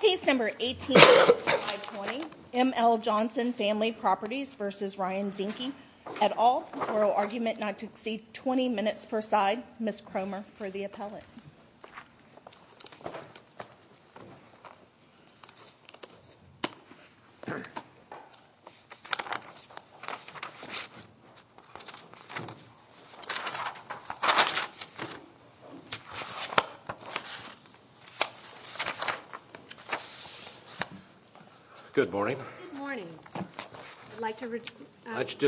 Case No. 18-520 M. L. Johnson Family Properties v. Ryan Zinke et al. Oral Argument not to Exceed 20 Minutes per Side Ms. Cromer for the appellate Good morning. I'd like to reserve five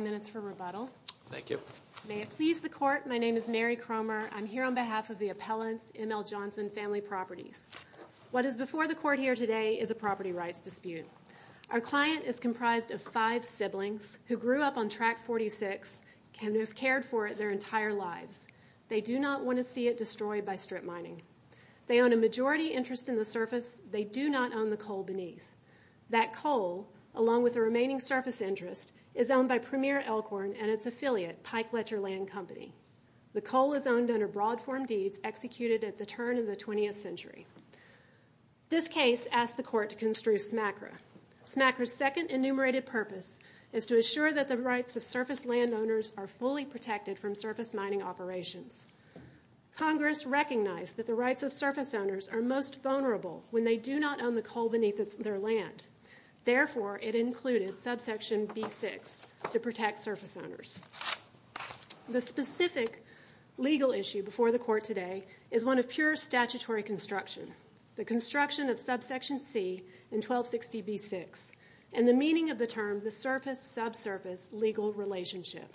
minutes for rebuttal. May it please the Court, my name is Mary Cromer. I'm here on behalf of the appellant's M. L. Johnson Family Properties. What is before the Court here today is a property rights dispute. Our client is comprised of five siblings who grew up on Track 46 and have cared for it their entire lives. They do not want to see it destroyed by strip mining. They own a majority interest in the surface. They do not own the coal beneath. That coal, along with the remaining surface interest, is owned by Premier Elkhorn and its affiliate, Pike Letcher Land Company. The coal is owned under broad form deeds executed at the turn of the 20th century. This case asks the Court to construe SMACRA. SMACRA's second enumerated purpose is to assure that the rights of surface landowners are fully protected from surface mining operations. Congress recognized that the rights of surface owners are most vulnerable when they do not own the coal beneath their land. Therefore, it included subsection B-6 to protect surface owners. The specific legal issue before the Court today is one of pure statutory construction. The construction of subsection C in 1260 B-6 and the meaning of the term the surface-subsurface legal relationship.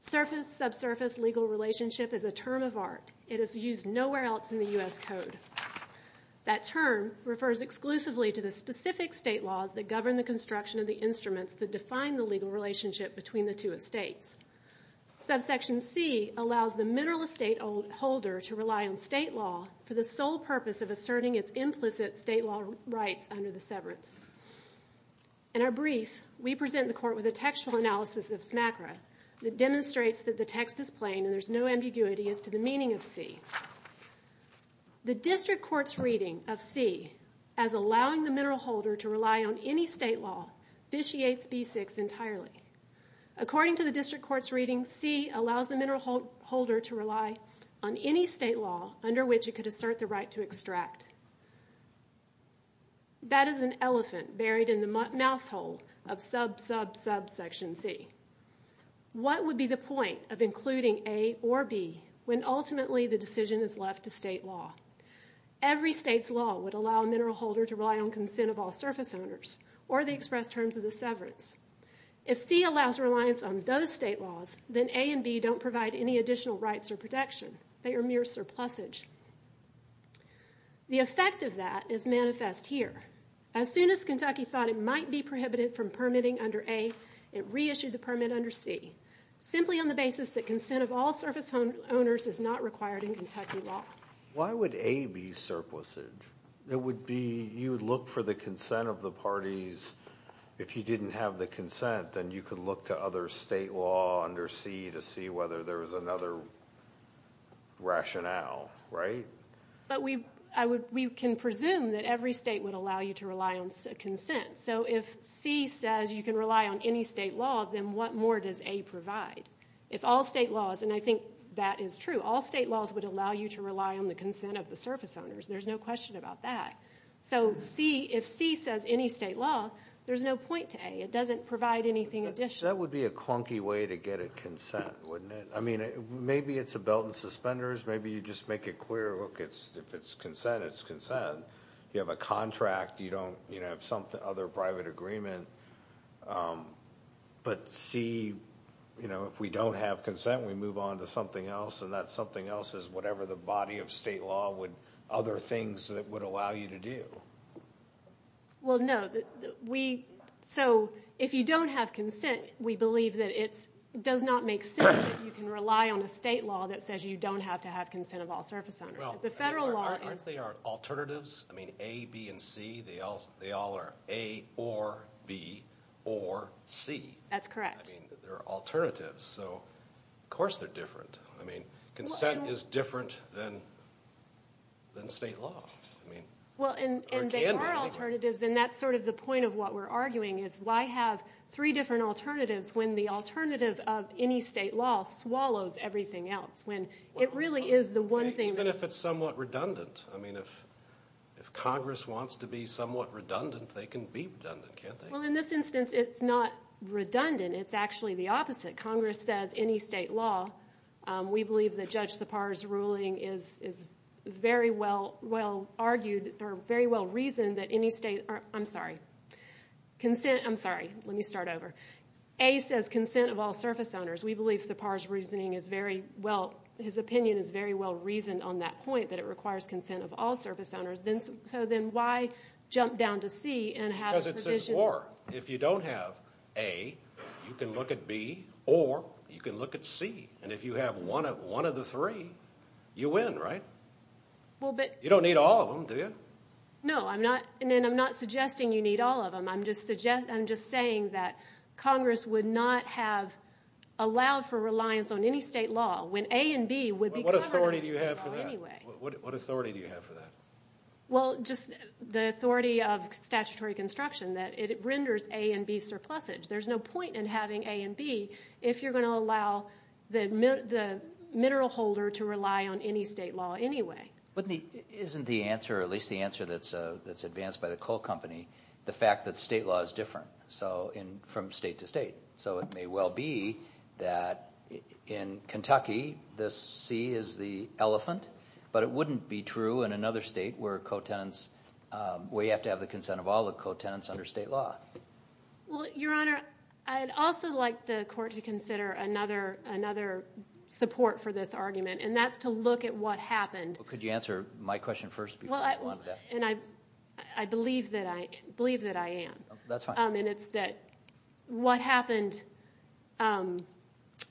Surface-subsurface legal relationship is a term of art. It is used nowhere else in the U.S. Code. That term refers exclusively to the specific state laws that govern the construction of the instruments that define the legal relationship between the two estates. Subsection C allows the mineral estate holder to rely on state law for the sole purpose of asserting its implicit state law rights under the severance. In our brief, we present the Court with a textual analysis of SMACRA that demonstrates that the text is plain and there is no ambiguity as to the meaning of C. The district court's reading of C as allowing the mineral holder to rely on any state law vitiates B-6 entirely. According to the district court's reading, C allows the mineral holder to rely on any state law under which it could assert the right to extract. That is an elephant buried in the mouse hole of sub-sub-subsection C. What would be the point of including A or B when ultimately the decision is left to state law? Every state's law would allow a mineral holder to rely on consent of all surface owners or the express terms of the severance. If C allows reliance on those state laws, then A and B don't provide any additional rights or protection. They are mere surplusage. The effect of that is manifest here. As soon as Kentucky thought it might be prohibited from permitting under A, it reissued the permit under C, simply on the basis that consent of all surface owners is not required in Kentucky law. Why would A be surplusage? It would be you would look for the consent of the parties. If you didn't have the consent, then you could look to other state law under C to see whether there was another rationale, right? But we can presume that every state would allow you to rely on consent. So if C says you can rely on any state law, then what more does A provide? If all state laws, and I think that is true, all state laws would allow you to rely on the consent of the surface owners. There's no question about that. So if C says any state law, there's no point to A. It doesn't provide anything additional. That would be a clunky way to get at consent, wouldn't it? I mean, maybe it's a belt and suspenders. Maybe you just make it clear, look, if it's consent, it's consent. You have a contract. You don't have some other private agreement. But C, you know, if we don't have consent, we move on to something else, and that something else is whatever the body of state law would other things that would allow you to do. Well, no. So if you don't have consent, we believe that it does not make sense that you can rely on a state law that says you don't have to have consent of all surface owners. Aren't they our alternatives? I mean, A, B, and C, they all are A or B or C. That's correct. I mean, they're alternatives, so of course they're different. I mean, consent is different than state law. Well, and they are alternatives, and that's sort of the point of what we're arguing, is why have three different alternatives when the alternative of any state law swallows everything else, when it really is the one thing. Even if it's somewhat redundant. I mean, if Congress wants to be somewhat redundant, they can be redundant, can't they? Well, in this instance, it's not redundant. It's actually the opposite. Congress says any state law, we believe that Judge Sipar's ruling is very well argued or very well reasoned that any state, I'm sorry, consent, I'm sorry, let me start over. A says consent of all surface owners. We believe Sipar's reasoning is very well, his opinion is very well reasoned on that point, that it requires consent of all surface owners. So then why jump down to C and have a provision? Because it says or. If you don't have A, you can look at B, or you can look at C. And if you have one of the three, you win, right? You don't need all of them, do you? No, and I'm not suggesting you need all of them. I'm just saying that Congress would not have allowed for reliance on any state law when A and B would be covered under state law anyway. What authority do you have for that? Well, just the authority of statutory construction, that it renders A and B surplusage. There's no point in having A and B if you're going to allow the mineral holder to rely on any state law anyway. Isn't the answer, or at least the answer that's advanced by the coal company, the fact that state law is different from state to state? So it may well be that in Kentucky, this C is the elephant, but it wouldn't be true in another state where you have to have the consent of all the co-tenants under state law. Well, Your Honor, I'd also like the court to consider another support for this argument, and that's to look at what happened. Well, could you answer my question first before we go on to that? And I believe that I am. That's fine. And it's that what happened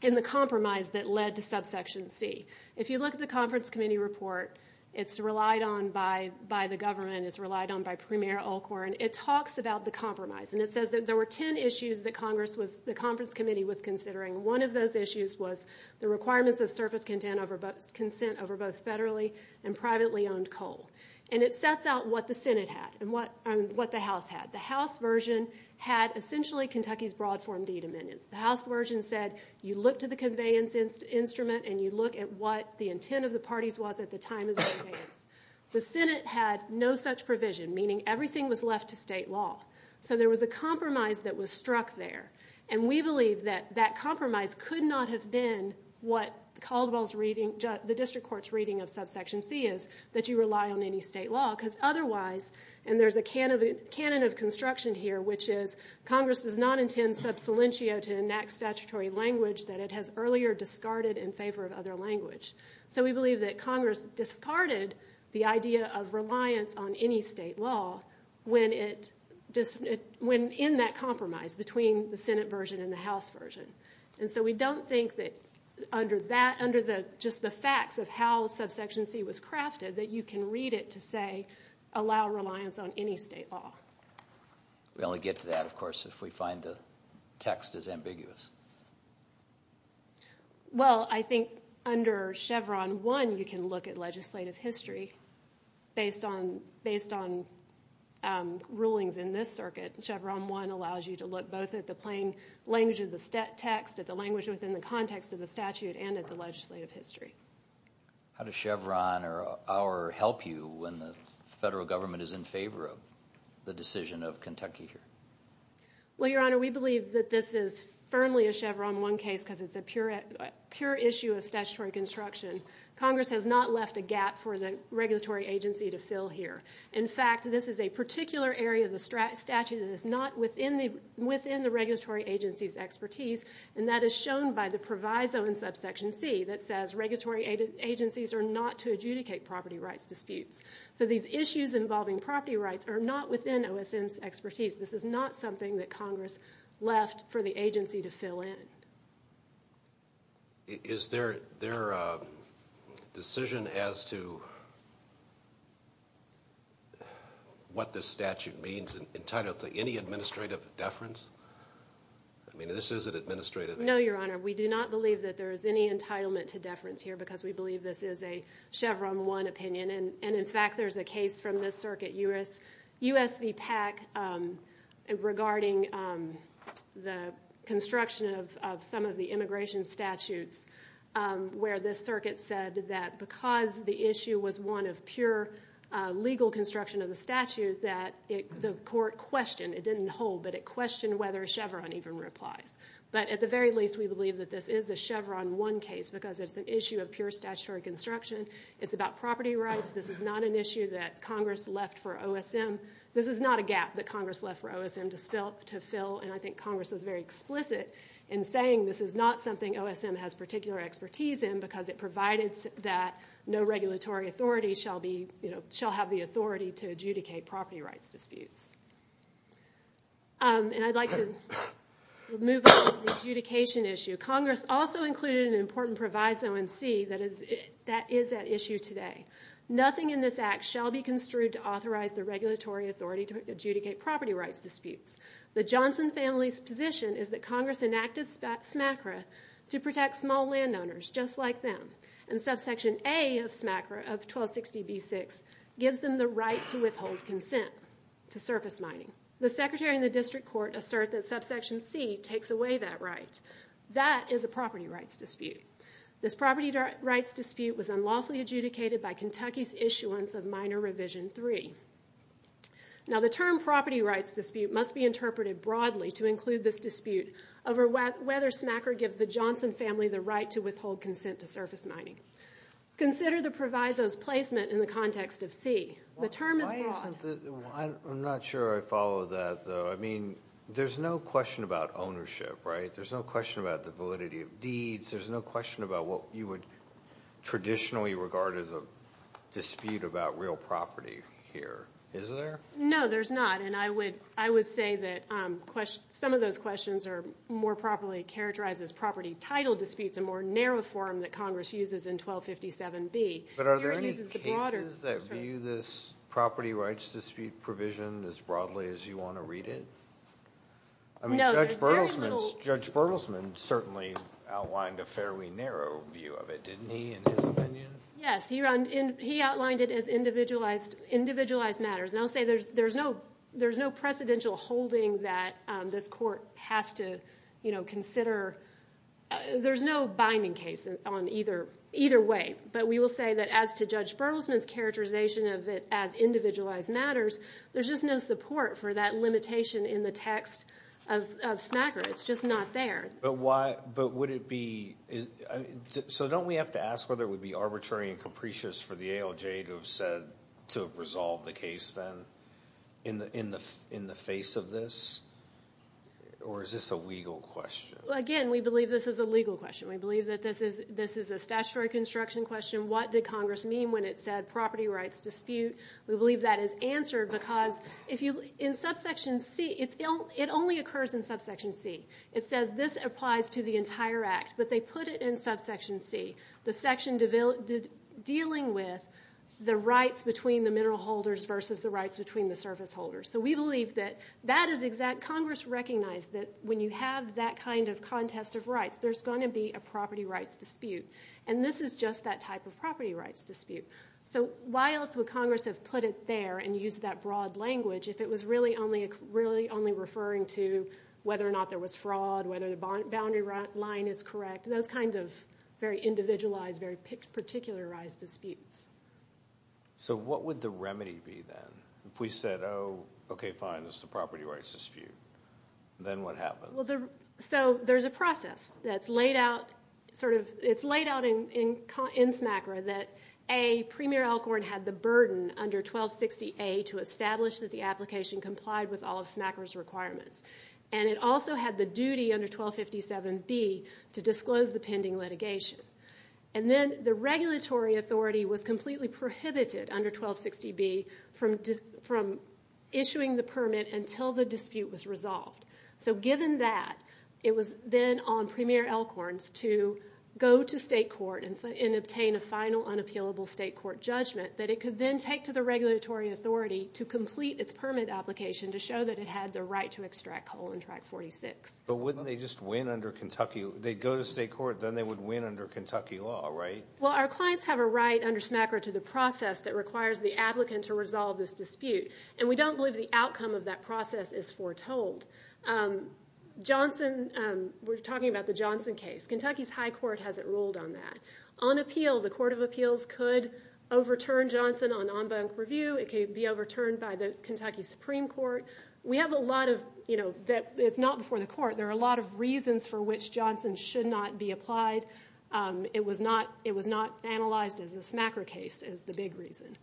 in the compromise that led to subsection C. If you look at the conference committee report, it's relied on by the government, it's relied on by Premier Alcorn. It talks about the compromise, and it says that there were ten issues that the conference committee was considering. One of those issues was the requirements of surface consent over both federally and privately owned coal. And it sets out what the Senate had and what the House had. The House version had essentially Kentucky's broad form de-dominion. The House version said you look to the conveyance instrument and you look at what the intent of the parties was at the time of the conveyance. The Senate had no such provision, meaning everything was left to state law. So there was a compromise that was struck there. And we believe that that compromise could not have been what Caldwell's reading, the district court's reading of subsection C is, that you rely on any state law. Because otherwise, and there's a canon of construction here, which is Congress does not intend sub salientio to enact statutory language that it has earlier discarded in favor of other language. So we believe that Congress discarded the idea of reliance on any state law when in that compromise between the Senate version and the House version. And so we don't think that under just the facts of how subsection C was crafted that you can read it to say allow reliance on any state law. We only get to that, of course, if we find the text is ambiguous. Well, I think under Chevron 1 you can look at legislative history based on rulings in this circuit. Chevron 1 allows you to look both at the plain language of the text, at the language within the context of the statute, and at the legislative history. How does Chevron or our help you when the federal government is in favor of the decision of Kentucky here? Well, Your Honor, we believe that this is firmly a Chevron 1 case because it's a pure issue of statutory construction. Congress has not left a gap for the regulatory agency to fill here. In fact, this is a particular area of the statute that is not within the regulatory agency's expertise, and that is shown by the proviso in subsection C that says regulatory agencies are not to adjudicate property rights disputes. So these issues involving property rights are not within OSM's expertise. This is not something that Congress left for the agency to fill in. Is their decision as to what this statute means entitled to any administrative deference? I mean, this is an administrative issue. No, Your Honor, we do not believe that there is any entitlement to deference here because we believe this is a Chevron 1 opinion, and in fact there's a case from this circuit, USVPAC, regarding the construction of some of the immigration statutes where this circuit said that because the issue was one of pure legal construction of the statute that the court questioned. It didn't hold, but it questioned whether Chevron even replies. But at the very least, we believe that this is a Chevron 1 case because it's an issue of pure statutory construction. It's about property rights. This is not an issue that Congress left for OSM. This is not a gap that Congress left for OSM to fill, and I think Congress was very explicit in saying this is not something OSM has particular expertise in because it provided that no regulatory authority shall have the authority to adjudicate property rights disputes. And I'd like to move on to the adjudication issue. Congress also included an important proviso in C that is at issue today. Nothing in this act shall be construed to authorize the regulatory authority to adjudicate property rights disputes. The Johnson family's position is that Congress enacted SMCRA to protect small landowners just like them, and subsection A of SMCRA of 1260B6 gives them the right to withhold consent to surface mining. The secretary and the district court assert that subsection C takes away that right. That is a property rights dispute. This property rights dispute was unlawfully adjudicated by Kentucky's issuance of Minor Revision 3. Now, the term property rights dispute must be interpreted broadly to include this dispute over whether SMCRA gives the Johnson family the right to withhold consent to surface mining. Consider the proviso's placement in the context of C. The term is broad. I'm not sure I follow that, though. I mean, there's no question about ownership, right? There's no question about the validity of deeds. There's no question about what you would traditionally regard as a dispute about real property here, is there? No, there's not. And I would say that some of those questions are more properly characterized as property title disputes, a more narrow form that Congress uses in 1257B. But are there any cases that view this property rights dispute provision as broadly as you want to read it? Judge Bertelsman certainly outlined a fairly narrow view of it, didn't he, in his opinion? Yes, he outlined it as individualized matters. And I'll say there's no precedential holding that this court has to consider. There's no binding case on either way. But we will say that as to Judge Bertelsman's characterization of it as individualized matters, there's just no support for that limitation in the text of Smacker. It's just not there. But would it be – so don't we have to ask whether it would be arbitrary and capricious for the ALJ to have said – to have resolved the case then in the face of this? Or is this a legal question? Again, we believe this is a legal question. We believe that this is a statutory construction question. What did Congress mean when it said property rights dispute? We believe that is answered because in Subsection C, it only occurs in Subsection C. It says this applies to the entire Act, but they put it in Subsection C, the section dealing with the rights between the mineral holders versus the rights between the service holders. So we believe that that is exact. Congress recognized that when you have that kind of contest of rights, there's going to be a property rights dispute. And this is just that type of property rights dispute. So why else would Congress have put it there and used that broad language if it was really only referring to whether or not there was fraud, whether the boundary line is correct, those kinds of very individualized, very particularized disputes? So what would the remedy be then? If we said, oh, okay, fine, this is a property rights dispute, then what happens? So there's a process that's laid out in SMACRA that, A, Premier Elkhorn had the burden under 1260A to establish that the application complied with all of SMACRA's requirements. And it also had the duty under 1257B to disclose the pending litigation. And then the regulatory authority was completely prohibited under 1260B from issuing the permit until the dispute was resolved. So given that, it was then on Premier Elkhorn's to go to state court and obtain a final unappealable state court judgment that it could then take to the regulatory authority to complete its permit application to show that it had the right to extract coal in Track 46. But wouldn't they just win under Kentucky? They'd go to state court, then they would win under Kentucky law, right? Well, our clients have a right under SMACRA to the process that requires the applicant to resolve this dispute. And we don't believe the outcome of that process is foretold. Johnson, we're talking about the Johnson case. Kentucky's high court has it ruled on that. On appeal, the Court of Appeals could overturn Johnson on en banc review. It could be overturned by the Kentucky Supreme Court. We have a lot of, you know, it's not before the court. There are a lot of reasons for which Johnson should not be applied. It was not analyzed as a SMACRA case is the big reason.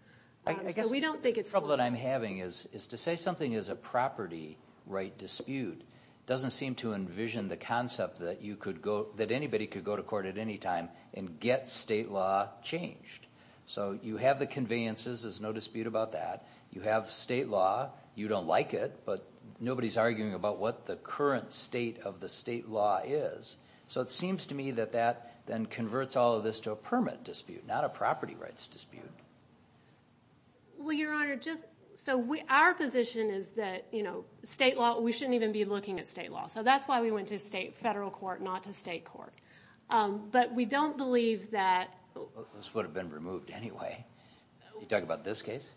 The trouble that I'm having is to say something is a property right dispute doesn't seem to envision the concept that anybody could go to court at any time and get state law changed. So you have the conveyances, there's no dispute about that. You have state law, you don't like it, but nobody's arguing about what the current state of the state law is. So it seems to me that that then converts all of this to a permit dispute, not a property rights dispute. Well, Your Honor, just so our position is that, you know, state law, we shouldn't even be looking at state law. So that's why we went to state federal court, not to state court. But we don't believe that. This would have been removed anyway. You're talking about this case?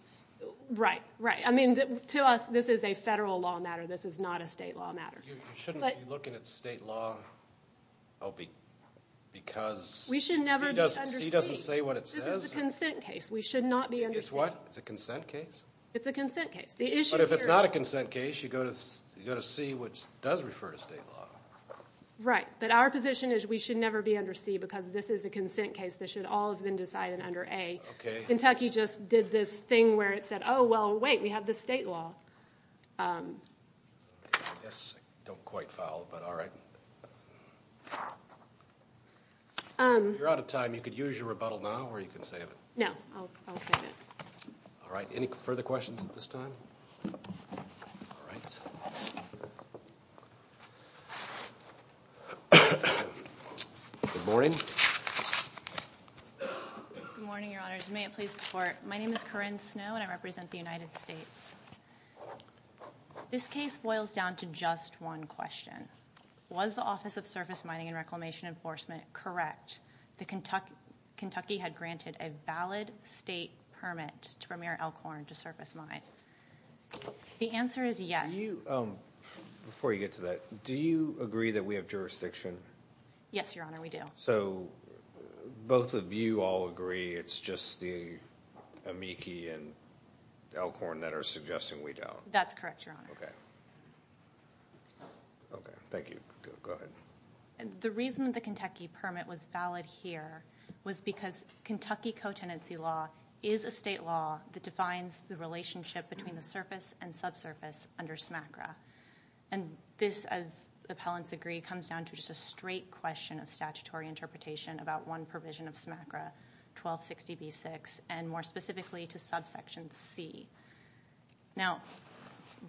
Right, right. I mean, to us, this is a federal law matter. This is not a state law matter. You shouldn't be looking at state law because. We should never be under C. C doesn't say what it says. This is a consent case. We should not be under C. It's what? It's a consent case? It's a consent case. But if it's not a consent case, you go to C, which does refer to state law. Right, but our position is we should never be under C because this is a consent case. This should all have been decided under A. Kentucky just did this thing where it said, oh, well, wait, we have this state law. I guess I don't quite follow, but all right. If you're out of time, you could use your rebuttal now, or you can save it. No, I'll save it. All right, any further questions at this time? All right. Good morning. Good morning, Your Honors. May it please the Court. My name is Corinne Snow, and I represent the United States. This case boils down to just one question. Was the Office of Surface Mining and Reclamation Enforcement correct that Kentucky had granted a valid state permit to Premier Elkhorn to surface mine? The answer is yes. Before you get to that, do you agree that we have jurisdiction? Yes, Your Honor, we do. So both of you all agree. It's just the Amici and Elkhorn that are suggesting we don't. That's correct, Your Honor. Okay. Okay, thank you. Go ahead. The reason the Kentucky permit was valid here was because Kentucky co-tenancy law is a state law that defines the relationship between the surface and subsurface under SMACRA. And this, as the appellants agree, comes down to just a straight question of statutory interpretation about one 60B6 and more specifically to subsection C. Now,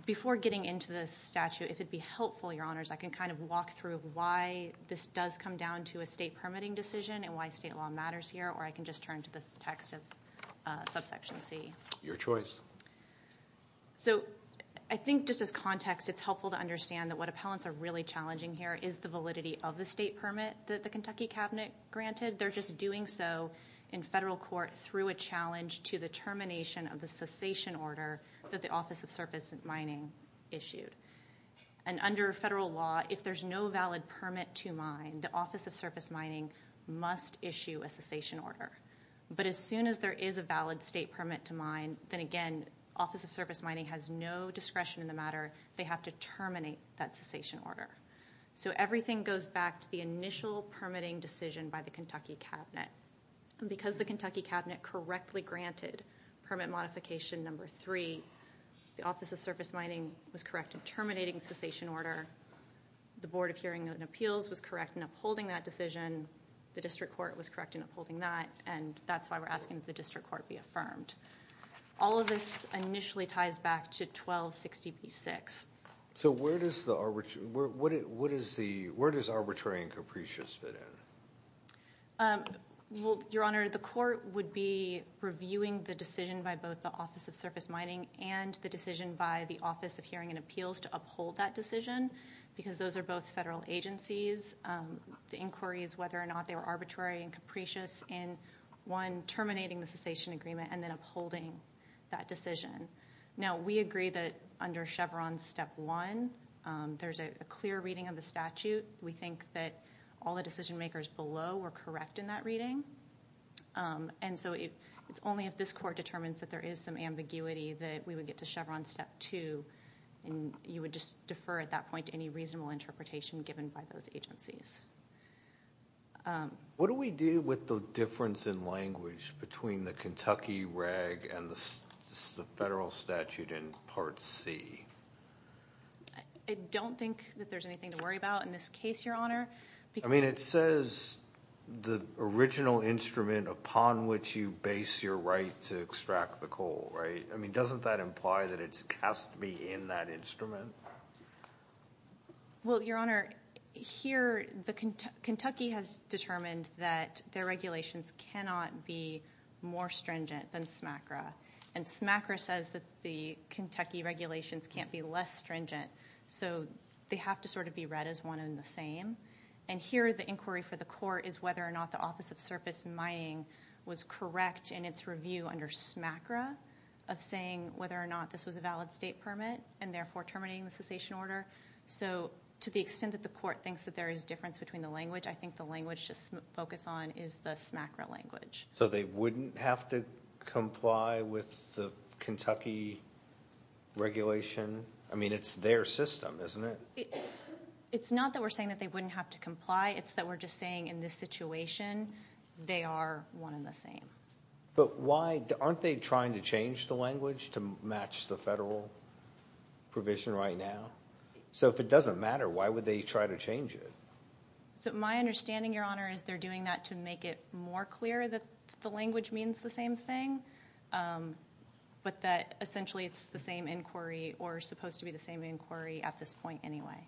before getting into this statute, if it would be helpful, Your Honors, I can kind of walk through why this does come down to a state permitting decision and why state law matters here, or I can just turn to the text of subsection C. Your choice. So I think just as context, it's helpful to understand that what appellants are really challenging here is the validity of the state permit that the Kentucky cabinet granted. They're just doing so in federal court through a challenge to the termination of the cessation order that the Office of Surface Mining issued. And under federal law, if there's no valid permit to mine, the Office of Surface Mining must issue a cessation order. But as soon as there is a valid state permit to mine, then again, Office of Surface Mining has no discretion in the matter. They have to terminate that cessation order. So everything goes back to the initial permitting decision by the Kentucky cabinet. And because the Kentucky cabinet correctly granted permit modification number three, the Office of Surface Mining was correct in terminating cessation order. The Board of Hearing and Appeals was correct in upholding that decision. The district court was correct in upholding that. And that's why we're asking the district court be affirmed. All of this initially ties back to 1260B6. So where does arbitrary and capricious fit in? Well, Your Honor, the court would be reviewing the decision by both the Office of Surface Mining and the decision by the Office of Hearing and Appeals to uphold that decision because those are both federal agencies. The inquiry is whether or not they were arbitrary and capricious in, one, terminating the cessation agreement and then upholding that decision. Now, we agree that under Chevron step one, there's a clear reading of the statute. We think that all the decision makers below were correct in that reading. And so it's only if this court determines that there is some ambiguity that we would get to Chevron step two and you would just defer at that point to any reasonable interpretation given by those agencies. What do we do with the difference in language between the Kentucky reg and the federal statute in Part C? I don't think that there's anything to worry about in this case, Your Honor. I mean, it says the original instrument upon which you base your right to extract the coal, right? I mean, doesn't that imply that it has to be in that instrument? Well, Your Honor, here, Kentucky has determined that their regulations cannot be more stringent than SMACRA. And SMACRA says that the Kentucky regulations can't be less stringent. So they have to sort of be read as one and the same. And here the inquiry for the court is whether or not the Office of Surface Mining was correct in its review under SMACRA of saying whether or not this was a valid state permit and therefore terminating the cessation order. So to the extent that the court thinks that there is difference between the language, I think the language to focus on is the SMACRA language. So they wouldn't have to comply with the Kentucky regulation? I mean, it's their system, isn't it? It's not that we're saying that they wouldn't have to comply. It's that we're just saying in this situation they are one and the same. But why? Aren't they trying to change the language to match the federal provision right now? So if it doesn't matter, why would they try to change it? So my understanding, Your Honor, is they're doing that to make it more clear that the language means the same thing but that essentially it's the same inquiry or supposed to be the same inquiry at this point anyway.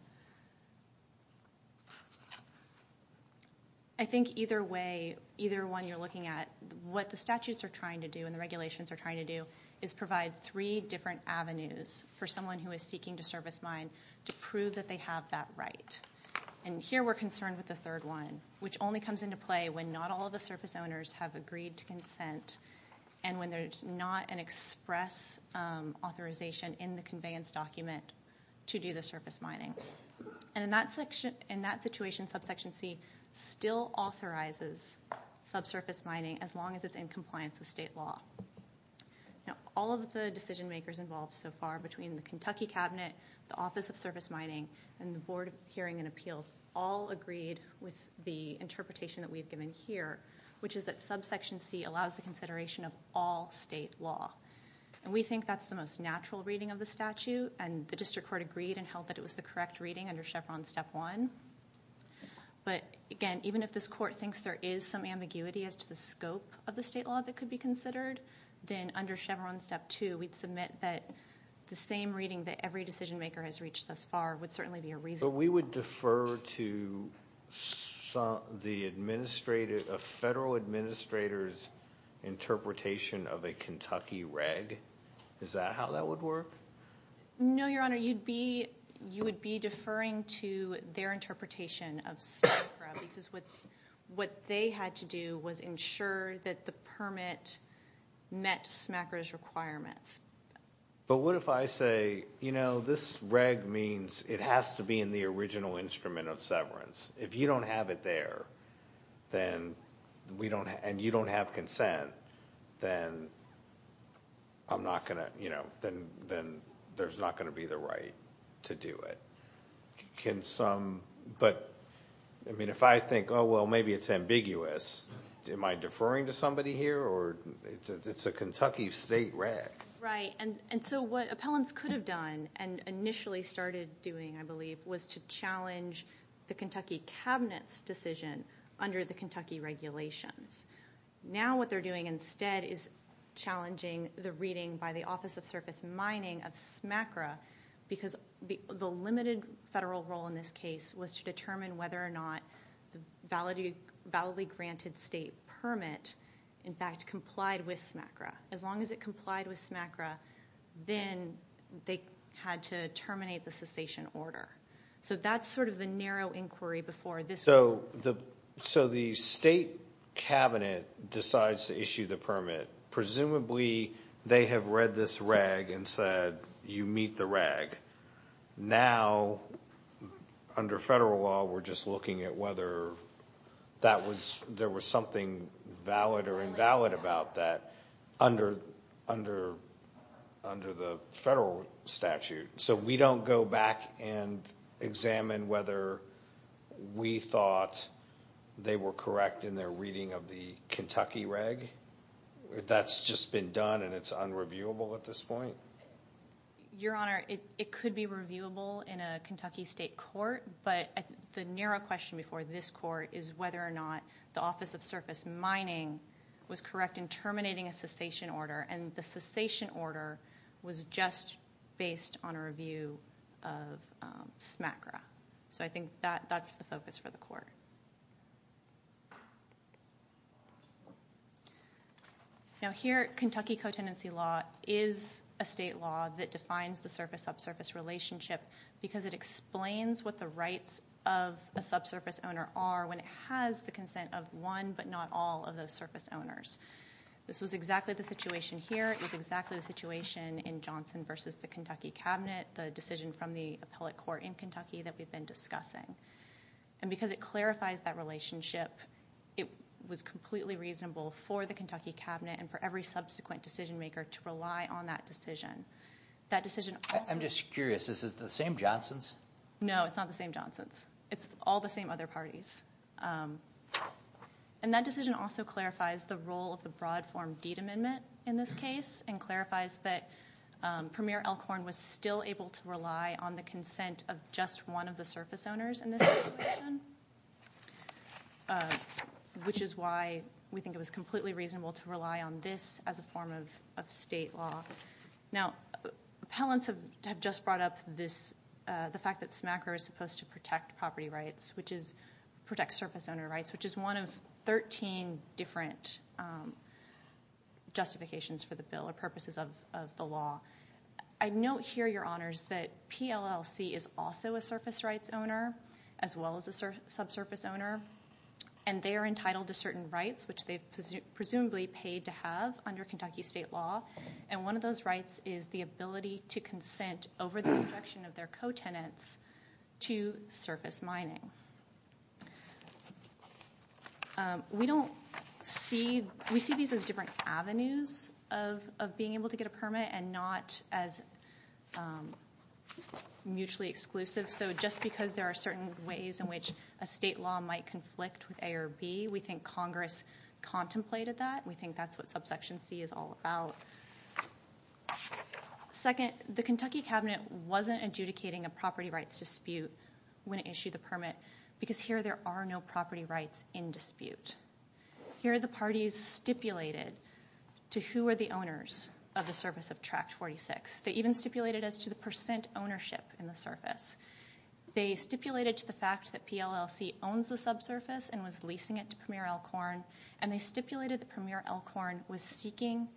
I think either way, either one you're looking at, what the statutes are trying to do and the regulations are trying to do is provide three different avenues for someone who is seeking to service mine to prove that they have that right. And here we're concerned with the third one, which only comes into play when not all the surface owners have agreed to consent and when there's not an express authorization in the conveyance document to do the surface mining. And in that situation, subsection C still authorizes subsurface mining as long as it's in compliance with state law. All of the decision makers involved so far between the Kentucky Cabinet, the Office of Surface Mining, and the Board of Hearing and Appeals, all agreed with the interpretation that we've given here, which is that subsection C allows the consideration of all state law. And we think that's the most natural reading of the statute, and the district court agreed and held that it was the correct reading under Chevron Step 1. But again, even if this court thinks there is some ambiguity as to the scope of the state law that could be considered, then under Chevron Step 2 we'd submit that the same reading that every decision maker has reached thus far would certainly be a reasonable one. But we would defer to the federal administrator's interpretation of a Kentucky reg? Is that how that would work? No, Your Honor. You would be deferring to their interpretation of SMACRA, because what they had to do was ensure that the permit met SMACRA's requirements. But what if I say, you know, this reg means it has to be in the original instrument of severance. If you don't have it there and you don't have consent, then there's not going to be the right to do it. But, I mean, if I think, oh, well, maybe it's ambiguous, am I deferring to somebody here or it's a Kentucky state reg? Right. And so what appellants could have done and initially started doing, I believe, was to challenge the Kentucky Cabinet's decision under the Kentucky regulations. Now what they're doing instead is challenging the reading by the Office of Surface Mining of SMACRA, because the limited federal role in this case was to determine whether or not the validly granted state permit, in fact, complied with SMACRA. As long as it complied with SMACRA, then they had to terminate the cessation order. So that's sort of the narrow inquiry before this court. So the state cabinet decides to issue the permit. Presumably they have read this reg and said, you meet the reg. Now, under federal law, we're just looking at whether there was something valid or invalid about that under the federal statute. So we don't go back and examine whether we thought they were correct in their reading of the Kentucky reg. That's just been done and it's unreviewable at this point. Your Honor, it could be reviewable in a Kentucky state court, but the narrow question before this court is whether or not the Office of Surface Mining was correct in terminating a cessation order, and the cessation order was just based on a review of SMACRA. Now, here, Kentucky co-tenancy law is a state law that defines the surface-up-surface relationship because it explains what the rights of a subsurface owner are when it has the consent of one but not all of those surface owners. This was exactly the situation here. It was exactly the situation in Johnson v. the Kentucky cabinet, the decision from the appellate court in Kentucky that we've been discussing. And because it clarifies that relationship, it was completely reasonable for the Kentucky cabinet and for every subsequent decision-maker to rely on that decision. I'm just curious, is this the same Johnsons? No, it's not the same Johnsons. It's all the same other parties. And that decision also clarifies the role of the broad form deed amendment in this case and clarifies that Premier Elkhorn was still able to apply to the state court, which is why we think it was completely reasonable to rely on this as a form of state law. Now, appellants have just brought up this, the fact that SMACRA is supposed to protect property rights, which is protect surface-owner rights, which is one of 13 different justifications for the bill or purposes of the law. I note here, Your Honors, that PLLC is also a surface rights owner as well as a subsurface owner. And they are entitled to certain rights, which they've presumably paid to have under Kentucky state law. And one of those rights is the ability to consent over the protection of their co-tenants to surface mining. We don't see, we see these as different avenues of being able to get a permit and not as mutually exclusive. So just because there are certain ways in which a state law might conflict with A or B, we think Congress contemplated that. We think that's what subsection C is all about. Second, the Kentucky cabinet wasn't adjudicating a property rights dispute when it issued the permit, because here there are no property rights in dispute. Here the parties stipulated to who are the owners of the surface of Tract 46. They even stipulated as to the percent ownership in the surface. They stipulated to the fact that PLLC owns the subsurface and was leasing it to Premier Elkhorn. And they stipulated that Premier Elkhorn was seeking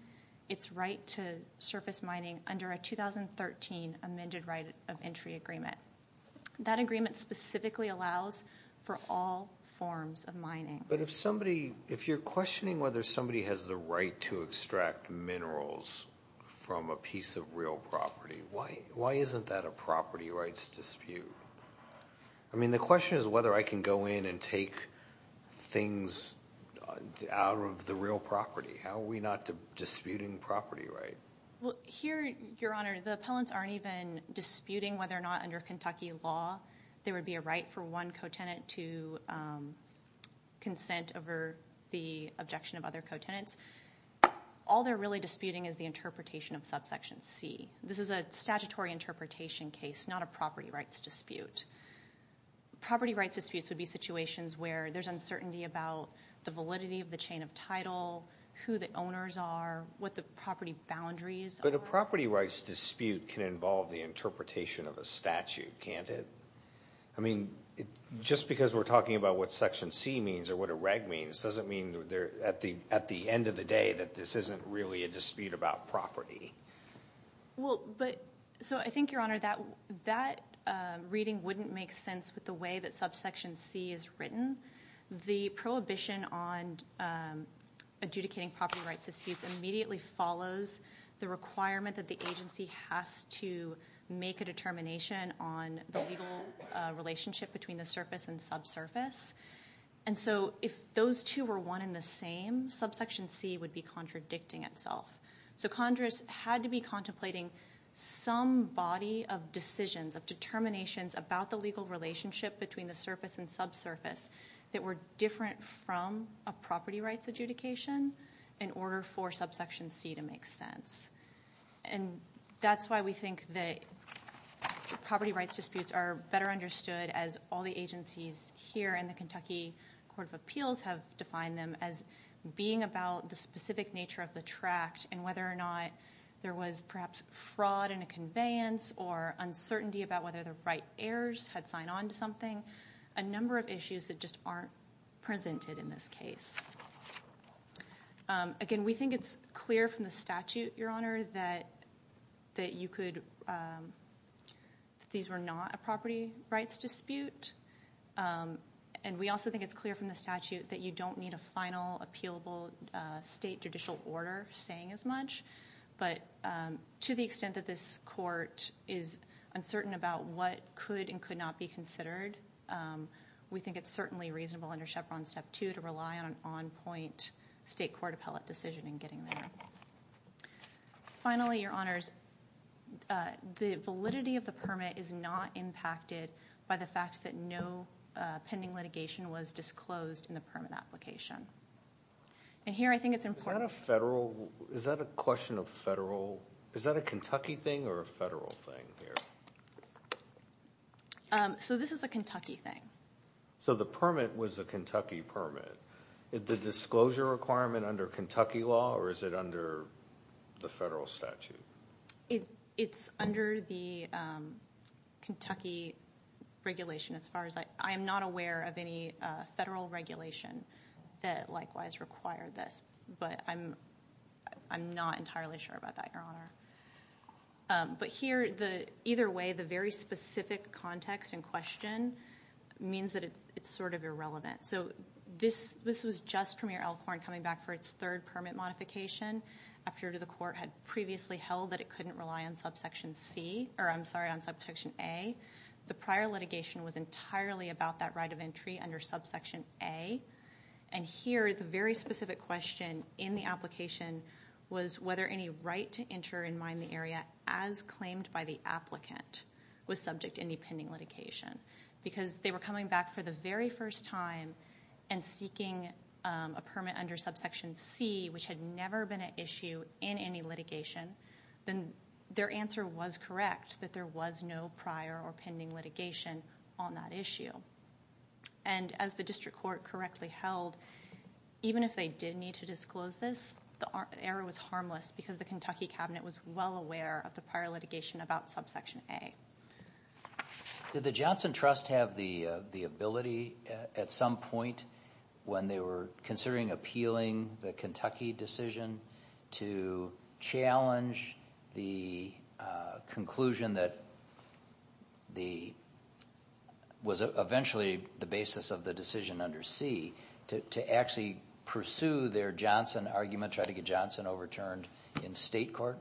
its right to surface mining under a 2013 amended right of entry agreement. That agreement specifically allows for all forms of mining. But if somebody, if you're questioning whether somebody has the right to extract minerals from a piece of real property, why, why isn't that a property rights dispute? I mean, the question is whether I can go in and take things out of the real property. How are we not disputing property right? Well here, Your Honor, the appellants aren't even disputing whether or not under Kentucky law there would be a right for one co-tenant to consent over the objection of other co-tenants. All they're really disputing is the interpretation of subsection C. This is a statutory interpretation case, not a property rights dispute. Property rights disputes would be situations where there's uncertainty about the validity of the chain of title, who the owners are, what the property boundaries. But a property rights dispute can involve the interpretation of a statute, can't it? I mean, just because we're talking about what section C means or what a reg means, doesn't mean at the end of the day that this isn't really a dispute about property. Well, but so I think, Your Honor, that reading wouldn't make sense with the way that subsection C is written. The prohibition on adjudicating property rights disputes immediately follows the requirement that the agency has to make a determination on the legal relationship between the surface and subsurface. And so if those two were one in the same, subsection C would be contradicting itself. So Congress had to be contemplating some body of decisions of determinations about the legal relationship between the surface and subsurface that were different from a property rights adjudication in order for subsection C to make sense. And that's why we think that property rights disputes are better understood as all the agencies here in the Kentucky Court of Appeals have defined them as being about the specific nature of the tract and whether or not there was perhaps fraud in a conveyance or uncertainty about whether the right heirs had signed on to something, a number of issues that just aren't presented in this case. Again, we think it's clear from the statute, Your Honor, that, that you could, that these were not a property rights dispute. And we also think it's clear from the statute that you don't need a final appealable state judicial order saying as much, but to the extent that this court is uncertain about what could and could not be considered, we think it's certainly reasonable under Chevron step two to rely on an on-point state court appellate decision in getting there. Finally, Your Honors, the validity of the permit is not impacted by the fact that no pending litigation was disclosed in the permit application. And here I think it's important. Is that a federal, is that a question of federal, is that a Kentucky thing or a federal thing here? So this is a Kentucky thing. So the permit was a Kentucky permit. The disclosure requirement under Kentucky law, or is it under the federal statute? It, it's under the Kentucky regulation as far as I, I am not aware of any federal regulation that likewise required this, but I'm, I'm not entirely sure about that, Your Honor. But here the, either way, the very specific context in question means that it's, it's sort of irrelevant. So this, this was just Premier Elkhorn coming back for its third permit modification after the court had previously held that it couldn't rely on subsection C, or I'm sorry, on subsection A. The prior litigation was entirely about that right of entry under subsection A. And here, the very specific question in the application was whether any right to enter and mine the area as claimed by the applicant was subject to any pending litigation. Because they were coming back for the very first time and seeking a permit under subsection C, which had never been an issue in any litigation, then their answer was correct, that there was no prior or pending litigation on that issue. And as the district court correctly held, even if they did need to disclose this, the error was harmless because the Kentucky cabinet was well aware of the prior litigation about subsection A. Did the Johnson Trust have the, the ability at some point when they were considering appealing the Kentucky decision to challenge the conclusion that the, was eventually the basis of the decision under C, to actually pursue their Johnson argument, try to get Johnson overturned in state court?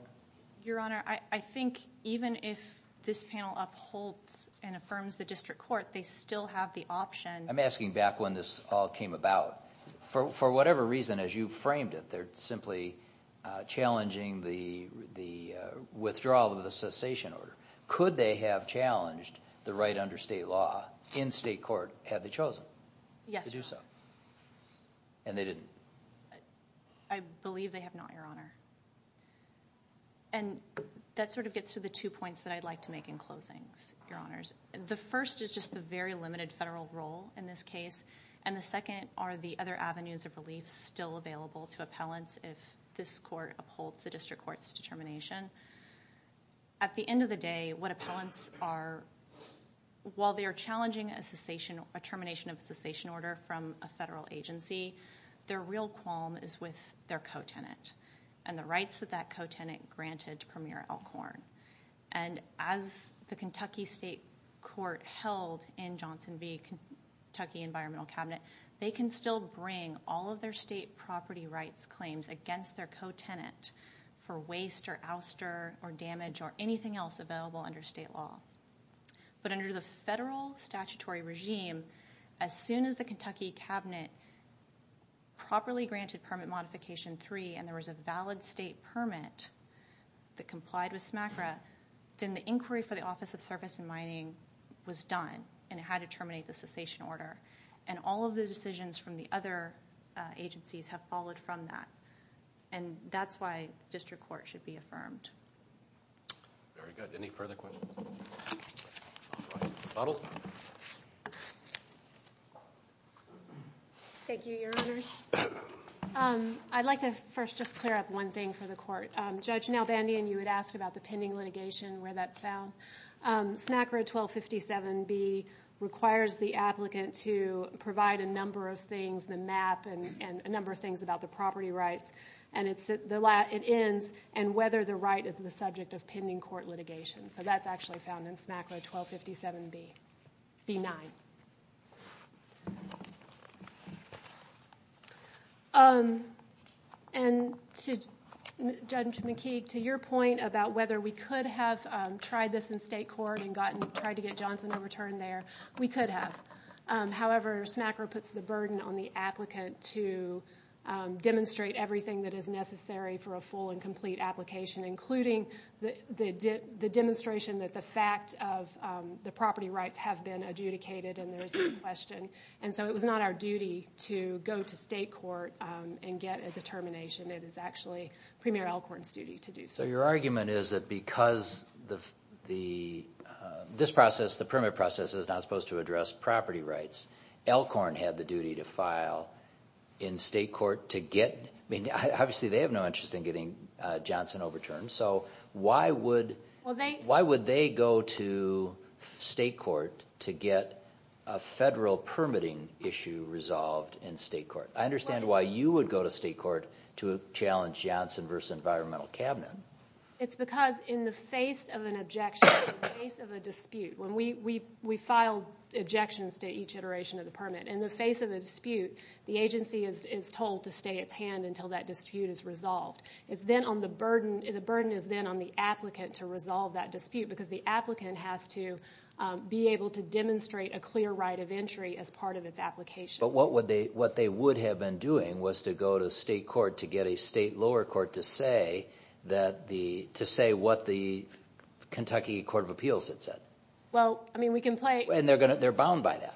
Your Honor, I think even if this panel upholds and affirms the district court, they still have the option. I'm asking back when this all came about. For whatever reason, as you framed it, they're simply challenging the withdrawal of the cessation order. Could they have challenged the right under state law in state court had they chosen to do so? Yes, Your Honor. And they didn't? I believe they have not, Your Honor. And that sort of gets to the two points that I'd like to make in closings, Your Honors. The first is just the very limited federal role in this case. And the second are the other avenues of relief still available to appellants if this court upholds the district court's determination. At the end of the day, what appellants are, while they are challenging a cessation, a termination of a cessation order from a federal agency, their real qualm is with their co-tenant and the rights of that co-tenant granted to Premier Alcorn. And as the Kentucky State Court held in Johnson v. Kentucky Environmental Cabinet, they can still bring all of their state property rights claims against their co-tenant for waste or ouster or damage or anything else available under state law. But under the federal statutory regime, as soon as the Kentucky Cabinet properly granted Permit Modification 3 and there was a valid state permit that complied with SMACRA, then the inquiry for the Office of Surface and Mining was done and it had to terminate the cessation order. And all of the decisions from the other agencies have followed from that. And that's why district court should be affirmed. Very good. Any further questions? All right. Bottle. Thank you, Your Honors. I'd like to first just clear up one thing for the court. Judge Nalbandian, you had asked about the pending litigation, where that's found. SMACRA 1257B requires the applicant to provide a number of things, the map and a number of things about the property rights and it ends, and whether the right is the subject of pending court litigation. So that's actually found in SMACRA 1257B. B9. And Judge McKeague, to your point about whether we could have tried this in state court and tried to get Johnson overturned there, we could have. However, SMACRA puts the burden on the applicant to demonstrate everything that is necessary for a full and complete application, including the demonstration that the fact of the property rights have been adjudicated and there is no question. And so it was not our duty to go to state court and get a determination. It is actually Premier Elkhorn's duty to do so. So your argument is that because this process, the permit process is not supposed to address property rights, Elkhorn had the duty to file in state court to get – So why would they go to state court to get a federal permitting issue resolved in state court? I understand why you would go to state court to challenge Johnson v. Environmental Cabinet. It's because in the face of an objection, in the face of a dispute, when we file objections to each iteration of the permit, in the face of a dispute, the agency is told to stay at hand until that dispute is resolved. The burden is then on the applicant to resolve that dispute because the applicant has to be able to demonstrate a clear right of entry as part of its application. But what they would have been doing was to go to state court to get a state lower court to say what the Kentucky Court of Appeals had said. Well, I mean, we can play – And they're bound by that.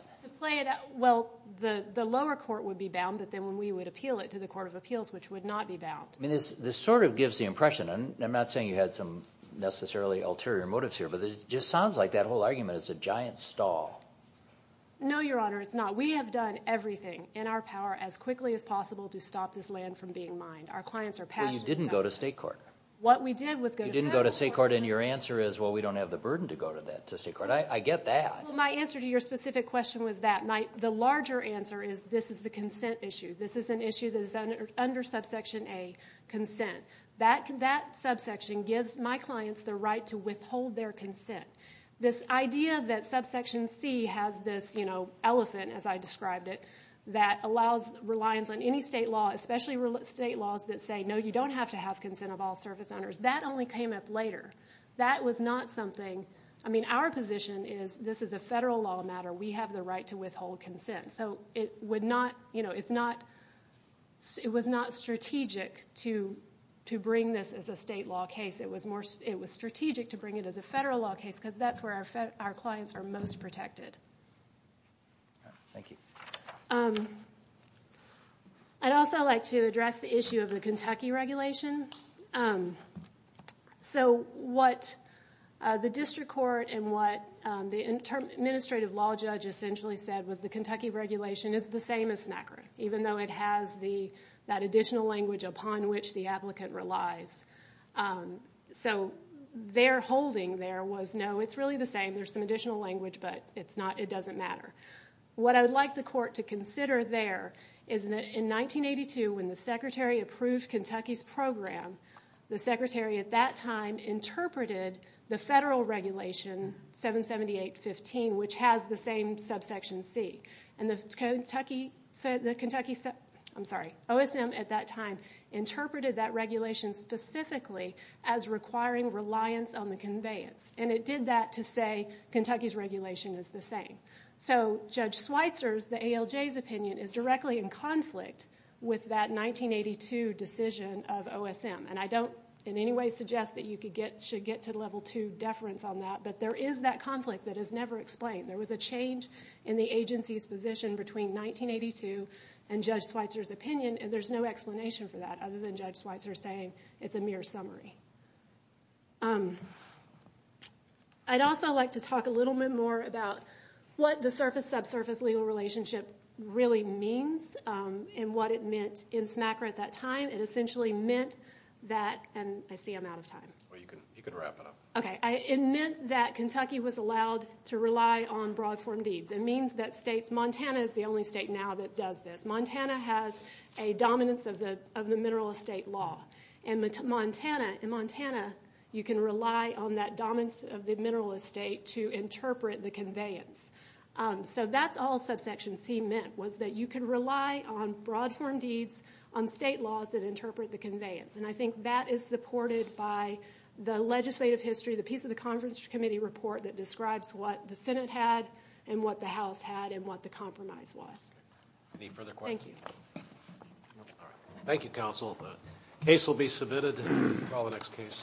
Well, the lower court would be bound, but then we would appeal it to the Court of Appeals, which would not be bound. I mean, this sort of gives the impression, and I'm not saying you had some necessarily ulterior motives here, but it just sounds like that whole argument is a giant stall. No, Your Honor, it's not. We have done everything in our power as quickly as possible to stop this land from being mined. Our clients are passionate about this. Well, you didn't go to state court. What we did was go to federal court. You didn't go to state court, and your answer is, well, we don't have the burden to go to state court. I get that. Well, my answer to your specific question was that. The larger answer is this is a consent issue. This is an issue that is under Subsection A, consent. That subsection gives my clients the right to withhold their consent. This idea that Subsection C has this, you know, elephant, as I described it, that allows reliance on any state law, especially state laws that say, no, you don't have to have consent of all service owners, that only came up later. That was not something – I mean, our position is this is a federal law matter. We have the right to withhold consent. So it would not – you know, it's not – it was not strategic to bring this as a state law case. It was strategic to bring it as a federal law case because that's where our clients are most protected. Thank you. I'd also like to address the issue of the Kentucky regulation. So what the district court and what the administrative law judge essentially said was the Kentucky regulation is the same as SNACRA, even though it has that additional language upon which the applicant relies. So their holding there was, no, it's really the same. There's some additional language, but it's not – it doesn't matter. What I would like the court to consider there is that in 1982, when the Secretary approved Kentucky's program, the Secretary at that time interpreted the federal regulation, 778.15, which has the same subsection C. And the Kentucky – I'm sorry, OSM at that time interpreted that regulation specifically as requiring reliance on the conveyance. And it did that to say Kentucky's regulation is the same. So Judge Schweitzer's, the ALJ's, opinion is directly in conflict with that 1982 decision of OSM. And I don't in any way suggest that you should get to level two deference on that, but there is that conflict that is never explained. There was a change in the agency's position between 1982 and Judge Schweitzer's opinion, and there's no explanation for that other than Judge Schweitzer saying it's a mere summary. I'd also like to talk a little bit more about what the surface-subsurface legal relationship really means and what it meant in SNACRA at that time. It essentially meant that – and I see I'm out of time. Well, you can wrap it up. Okay. It meant that Kentucky was allowed to rely on broad form deeds. It means that states – Montana is the only state now that does this. Montana has a dominance of the mineral estate law. In Montana, you can rely on that dominance of the mineral estate to interpret the conveyance. So that's all subsection C meant was that you could rely on broad form deeds, on state laws that interpret the conveyance. And I think that is supported by the legislative history, the piece of the conference committee report that describes what the Senate had and what the House had and what the compromise was. Any further questions? Thank you. All right. Thank you, counsel. The case will be submitted. Call the next case.